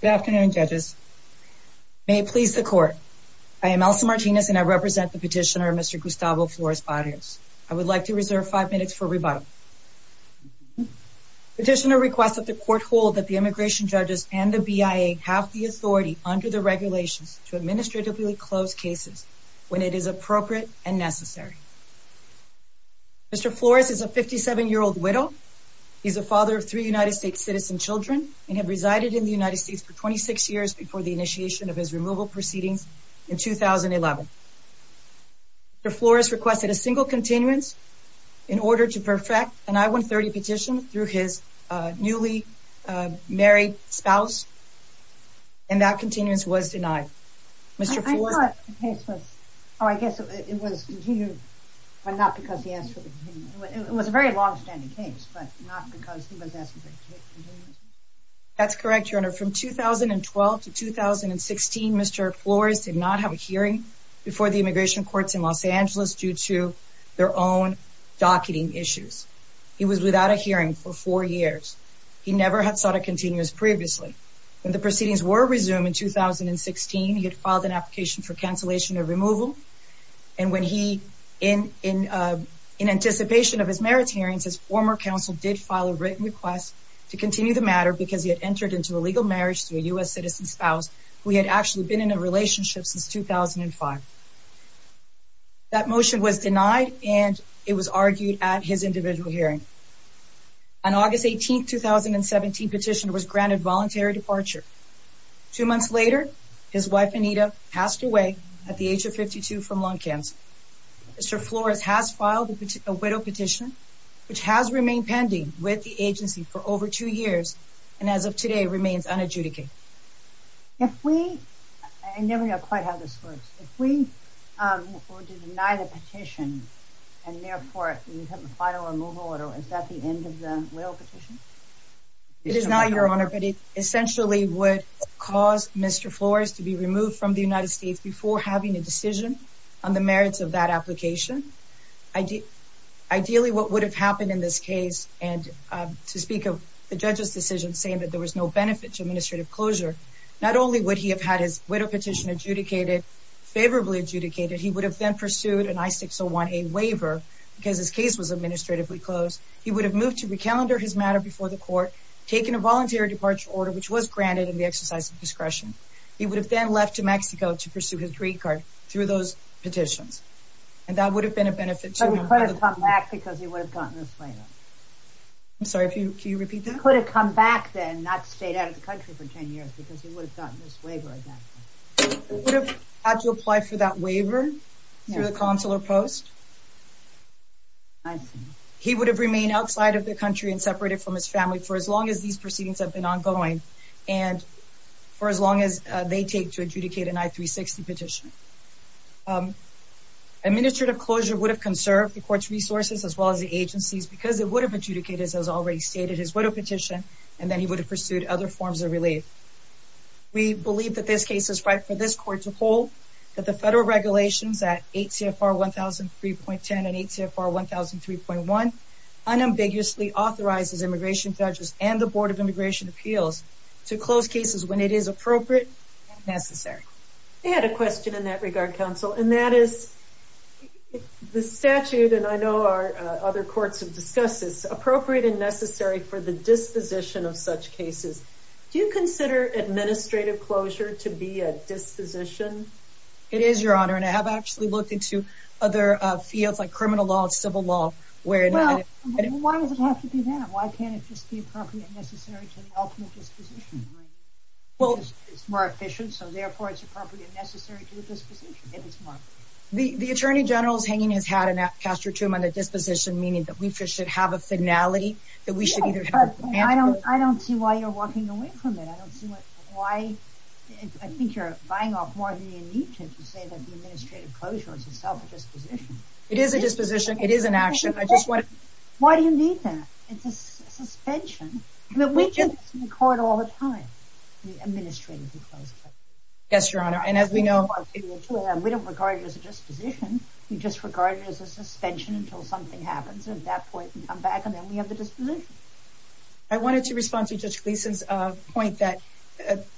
Good afternoon judges. May it please the court. I am Elsa Martinez and I represent the petitioner Mr. Gustavo Flores Barrios. I would like to reserve five minutes for rebuttal. Petitioner requests that the court hold that the immigration judges and the BIA have the authority under the regulations to administratively close cases when it is appropriate and necessary. Mr. Flores is a 57-year-old widow. He is a father of three United States citizen children and had resided in the United States for 26 years before the initiation of his removal proceedings in 2011. Mr. Flores requested a single continuance in order to perfect an I-130 petition through his newly married spouse and that continuance was denied. I thought the case was, oh I guess it was continued but not because he asked for the continuance. It was a very long-standing case but not because he was asking for the continuance. That's correct, your honor. From 2012 to 2016, Mr. Flores did not have a hearing before the immigration courts in Los Angeles due to their own docketing issues. He was without a hearing for four years. He never had sought a continuance previously. When the proceedings were resumed in 2016, he had filed an application for cancellation of removal and when he, in anticipation of his merits hearings, his former counsel did file a written request to continue the matter because he had entered into a legal marriage to a U.S. citizen spouse who he had actually been in a relationship since 2005. That motion was denied and it was argued at his individual hearing. An August 18, 2017 petition was granted voluntary departure. Two months later, his wife Anita passed away at the age of 52 from lung cancer. Mr. Flores has filed a widow petition which has remained pending with the agency for over two years and as of today remains unadjudicated. If we, I never know quite how this works, if we were to deny the petition and therefore file a removal, is that the end of the petition? It is not, Your Honor, but it essentially would cause Mr. Flores to be removed from the United States before having a decision on the merits of that application. Ideally, what would have happened in this case and to speak of the judge's decision saying that there was no benefit to administrative closure, not only would he have had his widow petition adjudicated, favorably adjudicated, he would have then a waiver because his case was administratively closed. He would have moved to re-calendar his matter before the court, taken a voluntary departure order which was granted in the exercise of discretion. He would have then left to Mexico to pursue his green card through those petitions and that would have been a benefit to him. He could have come back because he would have gotten this waiver. I'm sorry, can you repeat that? He could have come back then, not stayed out of the country for 10 years because he would have gotten this waiver. He would have had to apply for that waiver through the consular post. He would have remained outside of the country and separated from his family for as long as these proceedings have been ongoing and for as long as they take to adjudicate an I-360 petition. Administrative closure would have conserved the court's resources as well as the agency's because it would have adjudicated, as already stated, his widow petition and then he would have pursued other forms of relief. We believe that this case is right for this court to hold, that the federal regulations at ACFR 1003.10 and ACFR 1003.1 unambiguously authorizes immigration judges and the Board of Immigration Appeals to close cases when it is appropriate and necessary. I had a question in that regard, counsel, and that is the statute, and I know our other courts have discussed this, appropriate and necessary for the disposition of such cases. Do you consider administrative closure to be a disposition? It is, Your Honor, and I have actually looked into other fields like criminal law and civil law. Well, why does it have to be that? Why can't it just be appropriate and necessary to the ultimate disposition? It's more efficient, so therefore it's appropriate and necessary to the disposition. The Attorney General's hanging his hat, and I'll pass it to him on the disposition, meaning that we should have a finality that we should either have... I don't see why you're walking away from it. I don't see why... I think you're buying off more than you need to to say that the administrative closure is itself a disposition. It is a disposition. It is an action. I just want... Why do you need that? It's a suspension. I mean, we get this in court all the time, the administrative closure. Yes, Your Honor, and as we know... We don't regard it as a disposition. We just regard it as a suspension until something happens. At that point, we come back, and then we have the disposition. I wanted to respond to Judge Gleason's point that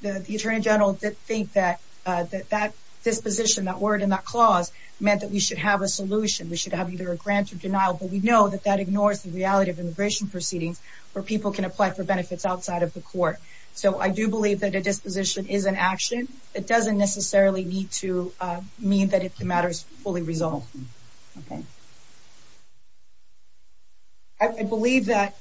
the Attorney General did think that that disposition, that word and that clause, meant that we should have a solution. We should have either a grant or denial, but we know that that ignores the reality of immigration proceedings where people can apply for benefits outside of the court. So I do believe that a disposition is an action. It doesn't necessarily need to mean that the matter is fully resolved. Okay. I believe that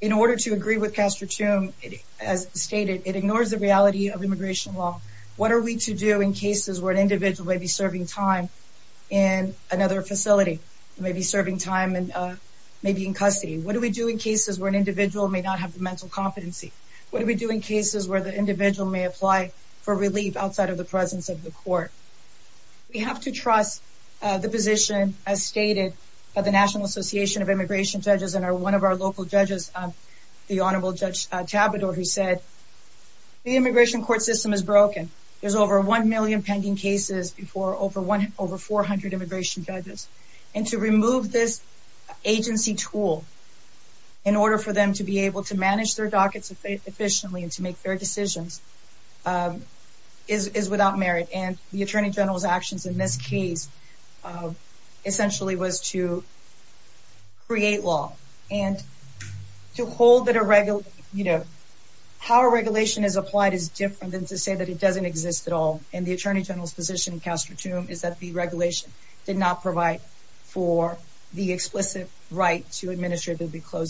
in order to agree with Castro-Tomb, as stated, it ignores the reality of immigration law. What are we to do in cases where an individual may be serving time in another facility, may be serving time and may be in custody? What do we do in cases where an individual may not have the mental competency? What do we do in cases where an individual may apply for relief outside of the presence of the court? We have to trust the position as stated by the National Association of Immigration Judges and one of our local judges, the Honorable Judge Tabador, who said the immigration court system is broken. There's over 1 million pending cases before over 400 immigration judges. And to remove this agency tool in order for them to be able to manage their dockets efficiently and to make fair decisions is without merit. And the Attorney General's actions in this case essentially was to create law and to hold that a regular, you know, how a regulation is applied is different than to say that it doesn't exist at all. And the Attorney General's position in Castro-Tomb is that the closed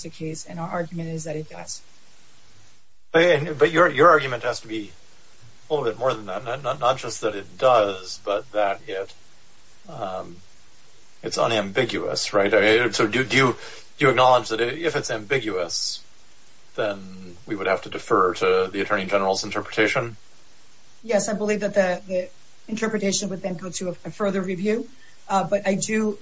the case and our argument is that it does. But your argument has to be a little bit more than that. Not just that it does, but that it's unambiguous, right? So do you acknowledge that if it's ambiguous, then we would have to defer to the Attorney General's interpretation? Yes, I believe that the interpretation would then go to a further review. But I do...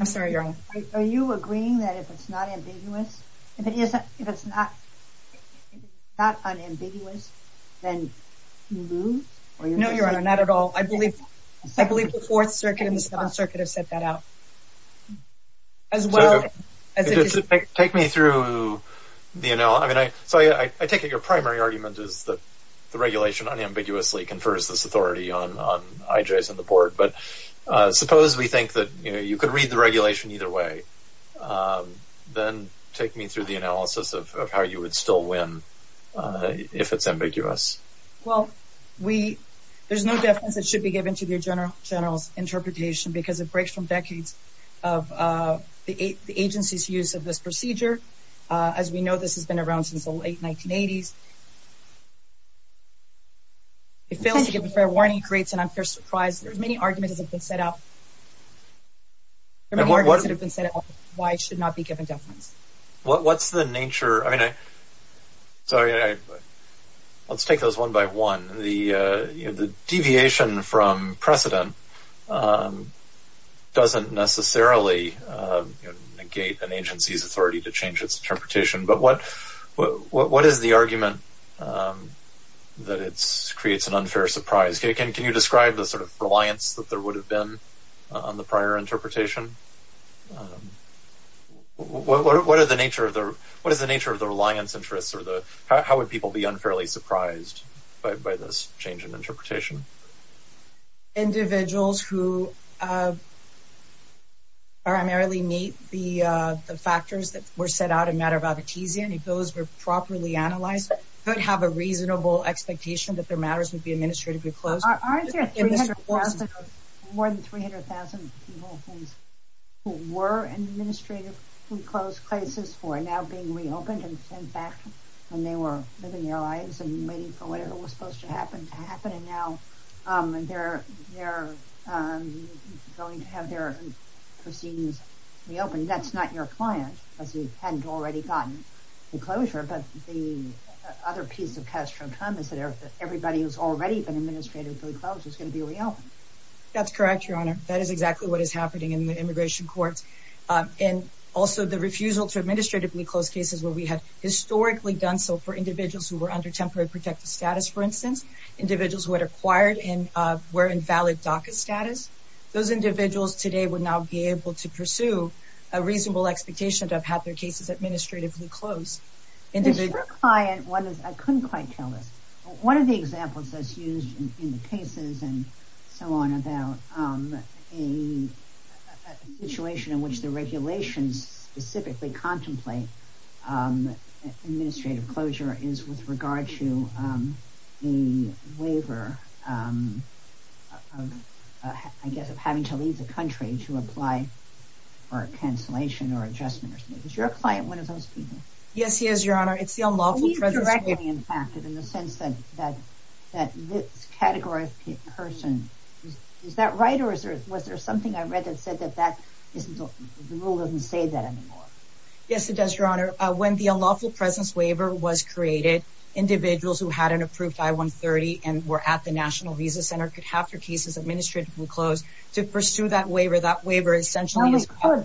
I'm sorry, Your Honor. Are you agreeing that if it's not ambiguous, if it isn't, if it's not unambiguous, then you move? No, Your Honor, not at all. I believe the Fourth Circuit and the Seventh Circuit have set that out as well. Take me through, you know, I mean, so I take it your primary argument is that the regulation unambiguously confers this authority on IJs and the Port. But suppose we think that, you know, you could read the regulation either way, then take me through the analysis of how you would still win if it's ambiguous. Well, we... there's no defense that should be given to the Attorney General's interpretation because it breaks from decades of the agency's use of this procedure. As we know, this has been around since the late 1980s. It fails to give a fair warning, creates an unfair surprise. There's arguments that have been set up. There are arguments that have been set up why it should not be given defense. What's the nature... I mean, sorry, let's take those one by one. The deviation from precedent doesn't necessarily negate an agency's authority to change its interpretation. But what is the argument that creates an unfair surprise? Can you describe the sort of reliance that there would have been on the prior interpretation? What are the nature of the... what is the nature of the reliance interests or the... how would people be unfairly surprised by this change in interpretation? Individuals who primarily meet the factors that were set out in Matter of Advocatesia, and if those were properly analyzed, could have a reasonable expectation that their administrative... More than 300,000 people who were in administratively closed places were now being reopened. In fact, when they were living their lives and waiting for whatever was supposed to happen to happen, and now they're going to have their proceedings reopened. That's not your client because we hadn't already gotten the closure. But the other piece of pastoral time is that everybody who's already been administratively closed is going to be reopened. That's correct, Your Honor. That is exactly what is happening in the immigration courts. And also the refusal to administratively close cases where we had historically done so for individuals who were under temporary protective status, for instance. Individuals who had acquired and were in valid DACA status. Those individuals today would now be able to pursue a reasonable expectation to have had their cases administratively closed. Is your client... I couldn't quite tell this. One of the examples that's used in the cases and so on about a situation in which the regulations specifically contemplate administrative closure is with regard to the waiver of, I guess, of having to leave the country to apply for a cancellation or adjustment or something. Is your client one of those people? Yes, he is, Your Honor. It's the unlawful presence waiver. Are you directly impacted in the sense that this category of person... Is that right? Or was there something I read that said that the rule doesn't say that anymore? Yes, it does, Your Honor. When the unlawful presence waiver was created, individuals who had an approved I-130 and were at the National Visa Center could have their cases administratively closed to pursue that waiver. That waiver essentially is... I'm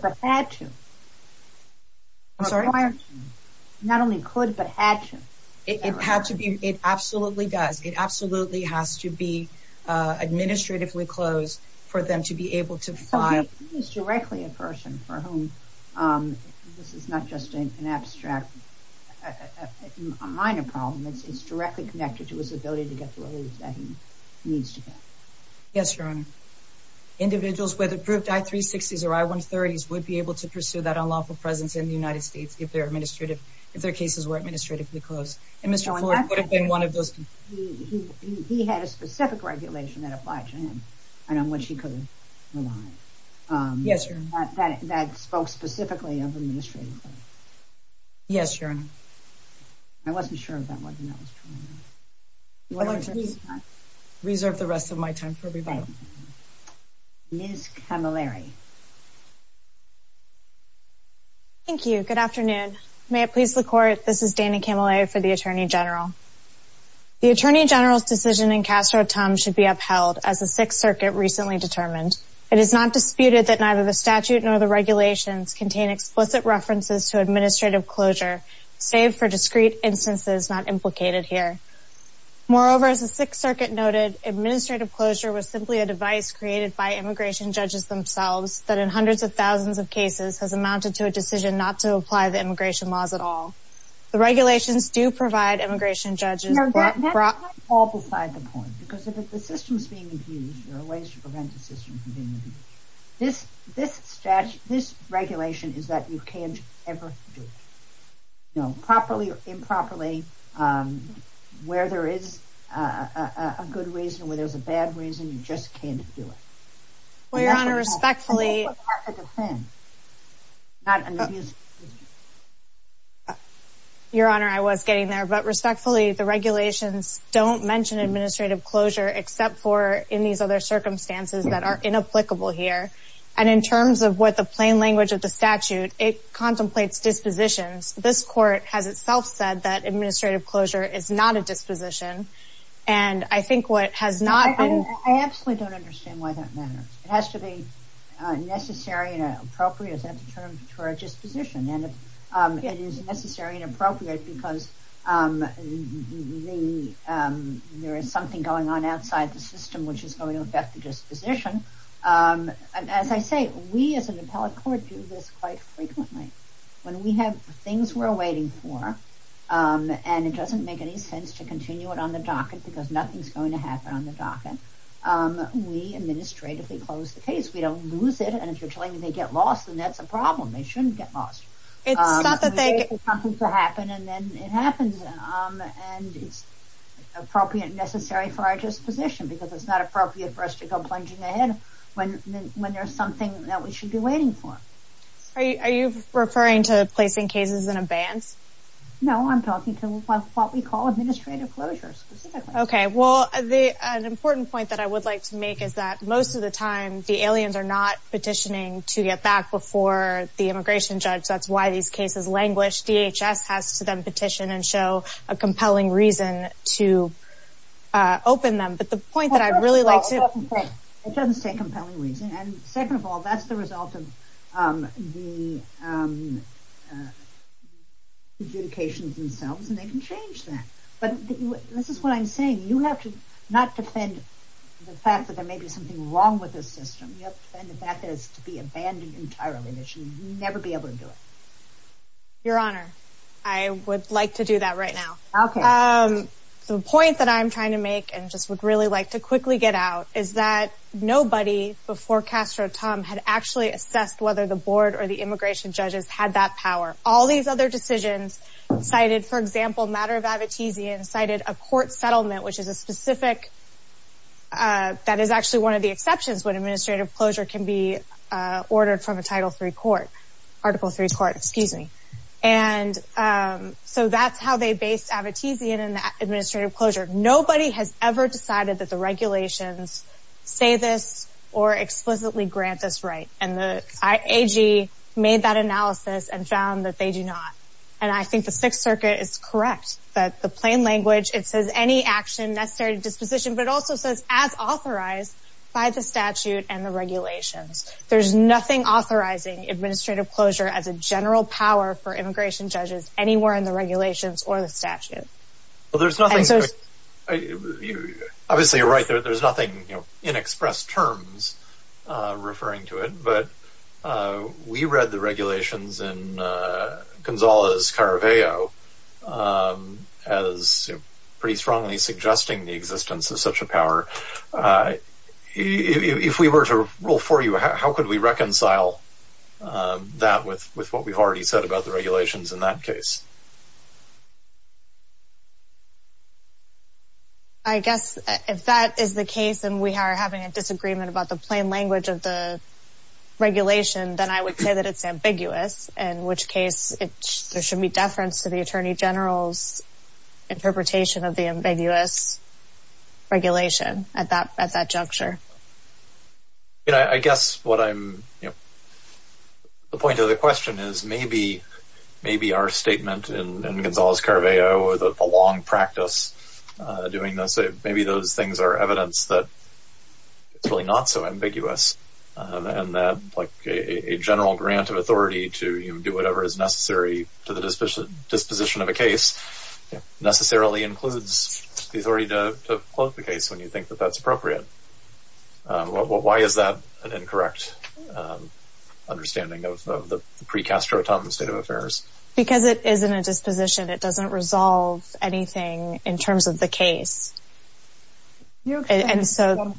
sorry? Not only could, but had to. It had to be. It absolutely does. It absolutely has to be administratively closed for them to be able to file... So, he is directly a person for whom this is not just an abstract, a minor problem. It's directly connected to his ability to get to where he needs to be. Yes, Your Honor. Individuals with approved I-360s or I-130s would be able to pursue that unlawful presence in the United States if their cases were administratively closed. And Mr. Ford would have been one of those... He had a specific regulation that applied to him, and on which he could rely. Yes, Your Honor. That spoke specifically of administratively. Yes, Your Honor. I wasn't sure if that was true or not. Reserve the rest of my time for rebuttal. Ms. Camilleri. Thank you. Good afternoon. May it please the Court, this is Dana Camilleri for the Attorney General. The Attorney General's decision in Castro-Tum should be upheld, as the Sixth Circuit recently determined. It is not disputed that neither the statute nor the regulations contain explicit references to administrative closure, save for discrete instances not implicated here. Moreover, as the Sixth Circuit noted, administrative closure was simply a device created by immigration judges themselves that in hundreds of thousands of cases has amounted to a decision not to apply the immigration laws at all. The regulations do provide immigration judges... No, that might fall beside the point, because if the system's being abused, there are ways to prevent the system from being abused. This regulation is that you can't ever do it. No, properly or improperly, where there is a good reason, where there's a bad reason, you just can't do it. Well, Your Honor, respectfully... Your Honor, I was getting there. But respectfully, the regulations don't mention administrative closure, except for in these other circumstances that are inapplicable here. And in terms of what the plain language of the statute, it contemplates dispositions. This Court has itself said that administrative closure is not a disposition. And I think what has not been... I absolutely don't understand why that matters. It has to be necessary and appropriate, is that the term, for a disposition? And if it is necessary and appropriate, because there is something going on outside the system, which is going to affect the disposition. As I say, we as an appellate court do this quite frequently. When we have things we're waiting for, and it doesn't make any sense to continue it on the docket, because nothing's going to happen on the docket, we administratively close the case. We don't lose it. And if you're telling me they get lost, then that's a problem. They shouldn't get lost. It's not that they... We wait for something to happen, and then it happens. And it's appropriate and necessary for our disposition, because it's not appropriate for us to go plunging ahead when there's something that we should be waiting for. Are you referring to placing cases in advance? No, I'm talking to what we call administrative closure, specifically. Well, an important point that I would like to make is that most of the time the aliens are not petitioning to get back before the immigration judge. That's why these cases languish. DHS has to then petition and show a compelling reason to open them. But the point that I'd really like to... It doesn't say compelling reason. And second of all, that's the result of the adjudications themselves, and they can change that. But this is what I'm saying. You have to not defend the fact that there may be something wrong with this system. You have to defend the fact that it's to be abandoned entirely, that you should never be able to do it. Your Honor, I would like to do that right now. The point that I'm trying to make and just would really like to quickly get out is that nobody before Castro-Tum had actually assessed whether the board or the immigration judges had that power. All these other decisions cited, for example, matter of Abitizian cited a court settlement, which is a specific... That is actually one of the exceptions when administrative closure can be ordered from a Title III court. Article III court, excuse me. And so that's how they based Abitizian in that administrative closure. Nobody has ever decided that the regulations say this or explicitly grant this right. And the AG made that analysis and found that they do not. And I think the Sixth Circuit is correct that the plain language, it says any action necessary disposition, but it also says as authorized by the statute and the regulations. There's nothing authorizing administrative closure as a general power for immigration judges anywhere in the regulations or the statute. Well, there's nothing... Obviously, you're right. There's nothing in expressed terms referring to it. But we read the regulations in Gonzales Caraveo as pretty strongly suggesting the existence of such a power. If we were to rule for you, how could we reconcile that with what we've already said about the regulations in that case? I guess if that is the case, and we are having a disagreement about the plain language of the regulation, then I would say that it's ambiguous, in which case there should be deference to the Attorney General's interpretation of the ambiguous regulation at that juncture. I guess what I'm... The point of the question is maybe our statement in Gonzales Caraveo or the long practice doing this, maybe those things are evidence that it's really not so ambiguous, and that a general grant of authority to do whatever is necessary to the disposition of a case necessarily includes the authority to close the case when you think that that's appropriate. Why is that an incorrect understanding of the pre-Castro-Tum state of affairs? Because it isn't a disposition. It doesn't resolve anything in terms of the case. And so...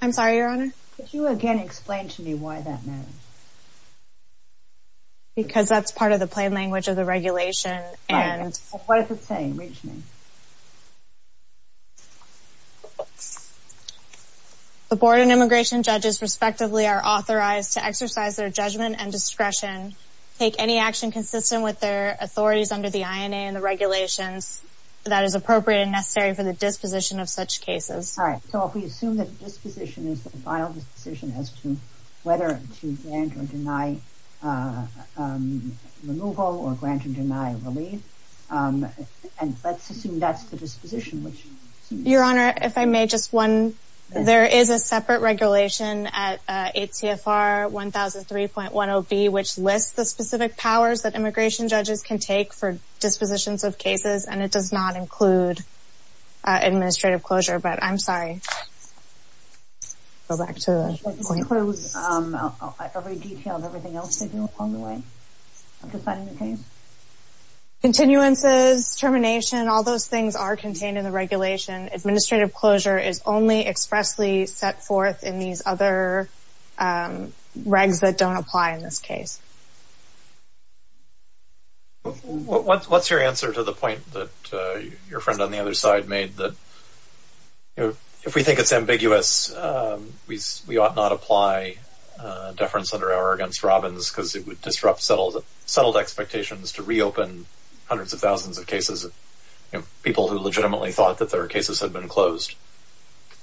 I'm sorry, Your Honor? Could you again explain to me why that matters? Because that's part of the plain language of the regulation and... What is it saying? The Board of Immigration Judges, respectively, are authorized to exercise their judgment and discretion, take any action consistent with their authorities under the INA and the regulations that is appropriate and necessary for the disposition of such cases. All right. So if we assume that the disposition is the final decision as to whether to grant or deny removal or grant or deny relief, and let's assume that's the disposition, which... Your Honor, if I may, just one... There is a separate regulation at ATFR 1003.10B, which lists the specific powers that immigration judges can take for dispositions of cases, and it does not include administrative closure. But I'm sorry. Go back to the point. Should I disclose every detail of everything else they do upon the way of deciding the case? Continuances, termination, all those things are contained in the regulation. Administrative closure is only expressly set forth in these other regs that don't apply in this case. What's your answer to the point that your friend on the other side made, that, you know, if we think it's ambiguous, we ought not apply deference under our against Robbins, because it would disrupt settled expectations to reopen hundreds of thousands of cases of, you know, people who legitimately thought that their cases had been closed?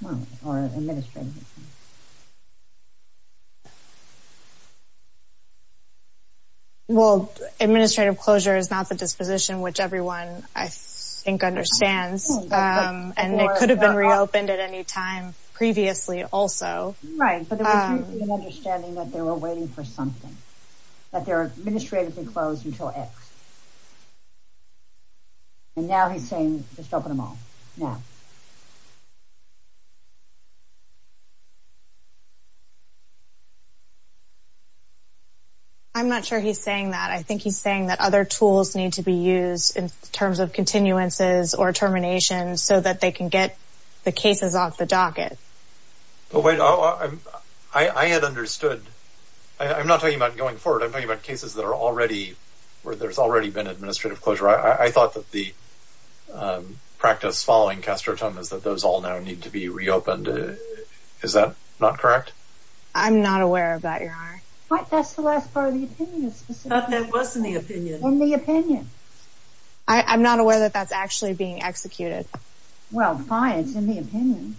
Well, or administratively. Well, administrative closure is not the disposition which everyone, I think, understands, and it could have been reopened at any time previously also. Right, but there was an understanding that they were waiting for something, that they're administratively closed until X. And now he's saying, just open them all now. I'm not sure he's saying that. I think he's saying that other tools need to be used in terms of continuances or terminations, so that they can get the cases off the docket. But wait, I had understood. I'm not talking about going forward. I'm talking about cases that are already, where there's already been administrative closure. I thought that the practice following Castro's death was to close the case. That those all now need to be reopened. Is that not correct? I'm not aware of that, Your Honor. What? That's the last part of the opinion. But that was in the opinion. In the opinion. I'm not aware that that's actually being executed. Well, fine, it's in the opinion.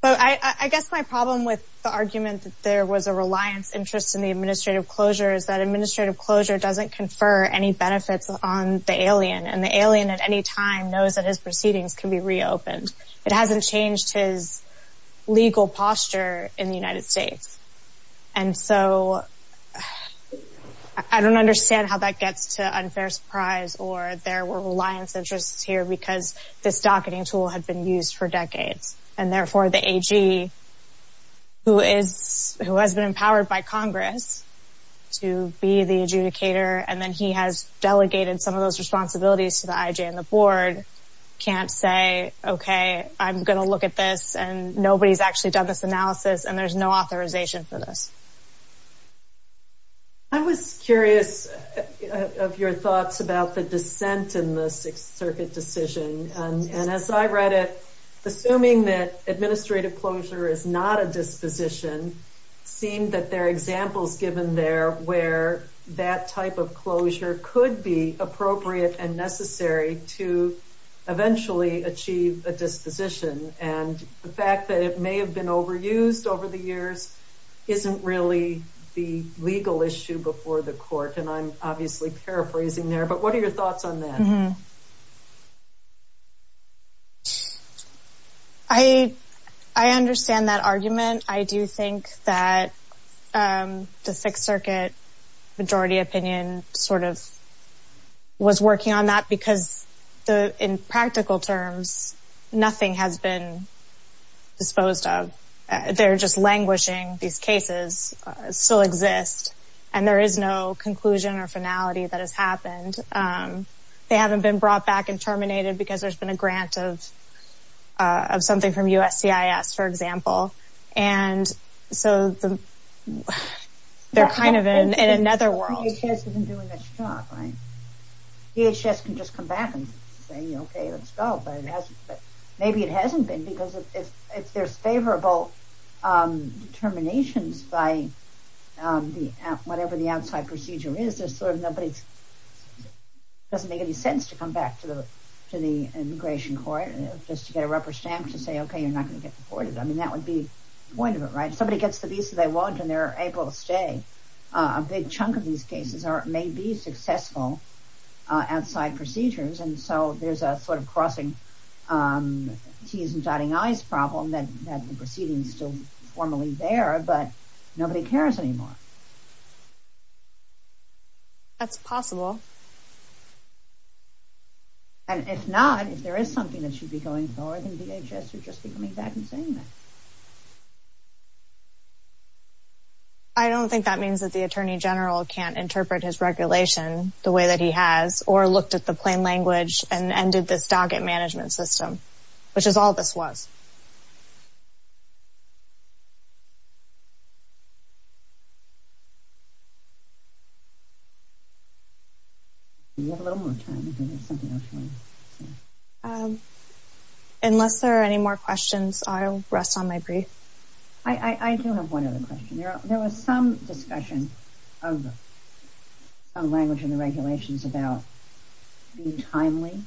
But I guess my problem with the argument that there was a reliance interest in the administrative closure is that administrative closure doesn't confer any benefits on the alien, and the alien at any time knows that his proceedings can be reopened. It hasn't changed his legal posture in the United States. And so I don't understand how that gets to unfair surprise, or there were reliance interests here because this docketing tool had been used for decades. And therefore, the AG, who has been empowered by Congress to be the adjudicator, and then he has delegated some of those responsibilities to the IJ and the board, can't say, OK, I'm going to look at this, and nobody's actually done this analysis, and there's no authorization for this. I was curious of your thoughts about the dissent in the Sixth Circuit decision. And as I read it, assuming that administrative closure is not a disposition, seemed that there are examples given there where that type of closure could be appropriate and necessary to eventually achieve a disposition. And the fact that it may have been overused over the years isn't really the legal issue before the court, and I'm obviously paraphrasing there. But what are your thoughts on that? I understand that argument. I do think that the Sixth Circuit majority opinion sort of was working on that because in practical terms, nothing has been disposed of. They're just languishing. These cases still exist, and there is no conclusion or finality that has happened. They haven't been brought back and terminated because there's been a grant of something from USCIS, for example. And so they're kind of in another world. The DHS isn't doing its job, right? DHS can just come back and say, okay, let's go, but maybe it hasn't been because there's favorable determinations by whatever the outside procedure is. There's sort of nobody's... It doesn't make any sense to come back to the immigration court just to get a rubber stamp to say, okay, you're not going to get deported. That would be the point of it, right? If somebody gets the visa they want and they're able to stay, a big chunk of these cases may be successful outside procedures. And so there's a sort of crossing T's and dotting I's problem that the proceeding is still formally there, but nobody cares anymore. That's possible. And if not, if there is something that should be going forward, then DHS should just be coming back and saying that. I don't think that means that the attorney general can't interpret his regulation the way that he has, or looked at the plain language and ended this docket management system, which is all this was. Do you have a little more time if you have something else you want to say? Unless there are any more questions, I'll rest on my brief. I do have one other question. There was some discussion of language in the regulations about being timely,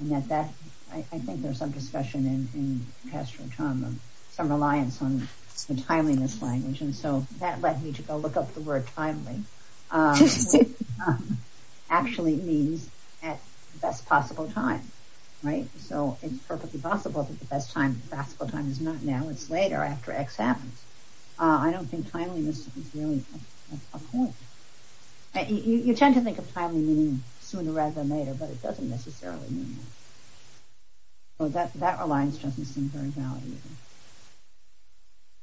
and that I think there's some discussion in pastoral trauma, some reliance on the timeliness language. And so that led me to go look up the word timely, which actually means at the best possible time, right? So it's perfectly possible that the best time, the best possible time is not now, it's later after X happens. I don't think timeliness is really a point. You tend to think of timely meaning sooner rather than later, but it doesn't necessarily mean that. So that reliance doesn't seem very valid either.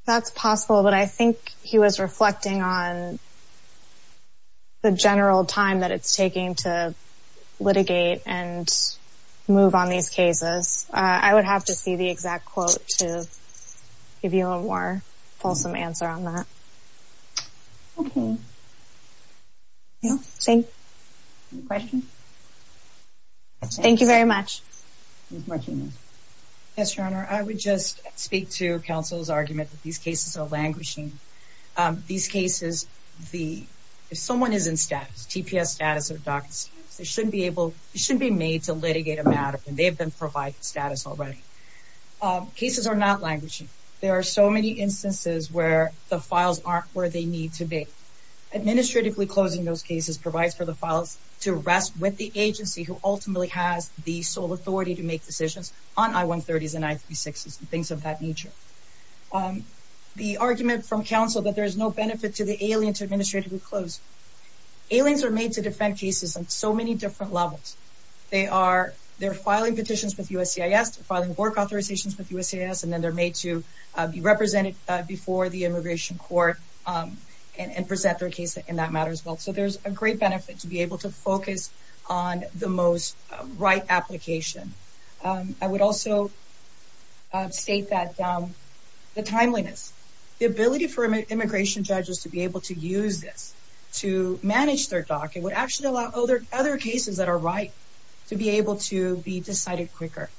That's possible, but I think he was reflecting on the general time that it's taking to litigate and move on these cases. I would have to see the exact quote to give you a more fulsome answer on that. Okay. Yeah, same question. Thank you very much. Ms. Martinez. Yes, Your Honor. I would just speak to counsel's argument that these cases are languishing. These cases, if someone is in status, TPS status or DACA status, they shouldn't be able, they shouldn't be made to litigate a matter when they've been provided status already. Cases are not languishing. There are so many instances where the files aren't where they need to be. Administratively closing those cases provides for the files to rest with the agency who ultimately has the sole authority to make decisions on I-130s and I-36s and things of that nature. The argument from counsel that there is no benefit to the alien to administratively close. Aliens are made to defend cases on so many different levels. They are filing petitions with USCIS, filing work authorizations with USCIS, and then they're made to be represented before the immigration court and present their case in that matter as well. There's a great benefit to be able to focus on the most right application. I would also state that the timeliness, the ability for immigration judges to be able to use this to manage their DACA would actually allow other cases that are right to be able to be decided quicker.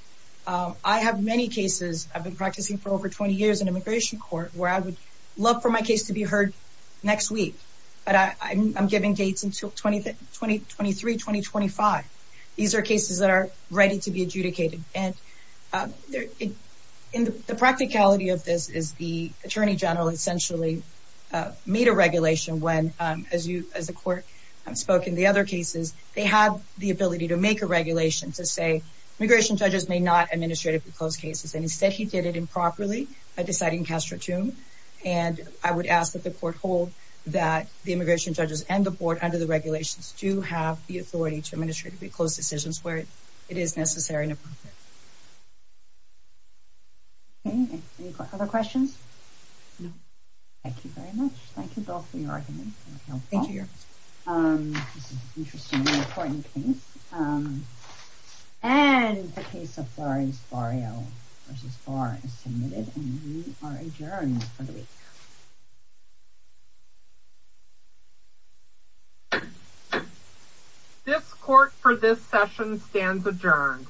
I have many cases I've been practicing for over 20 years in immigration court where I would love for my case to be heard next week. But I'm giving dates until 2023, 2025. These are cases that are ready to be adjudicated. And the practicality of this is the attorney general essentially made a regulation when, as the court spoke in the other cases, they had the ability to make a regulation to say immigration judges may not administratively close cases. And instead, he did it improperly by deciding castro-tum. And I would ask that the court hold that the immigration judges and the board under the regulations do have the authority to administratively close decisions where it is necessary and appropriate. Okay, any other questions? No. Thank you very much. Thank you both for your argument. Thank you. This is an interesting and important case. And the case of Florence Barrio v. Barr is submitted and we are adjourned for the week. This court for this session stands adjourned.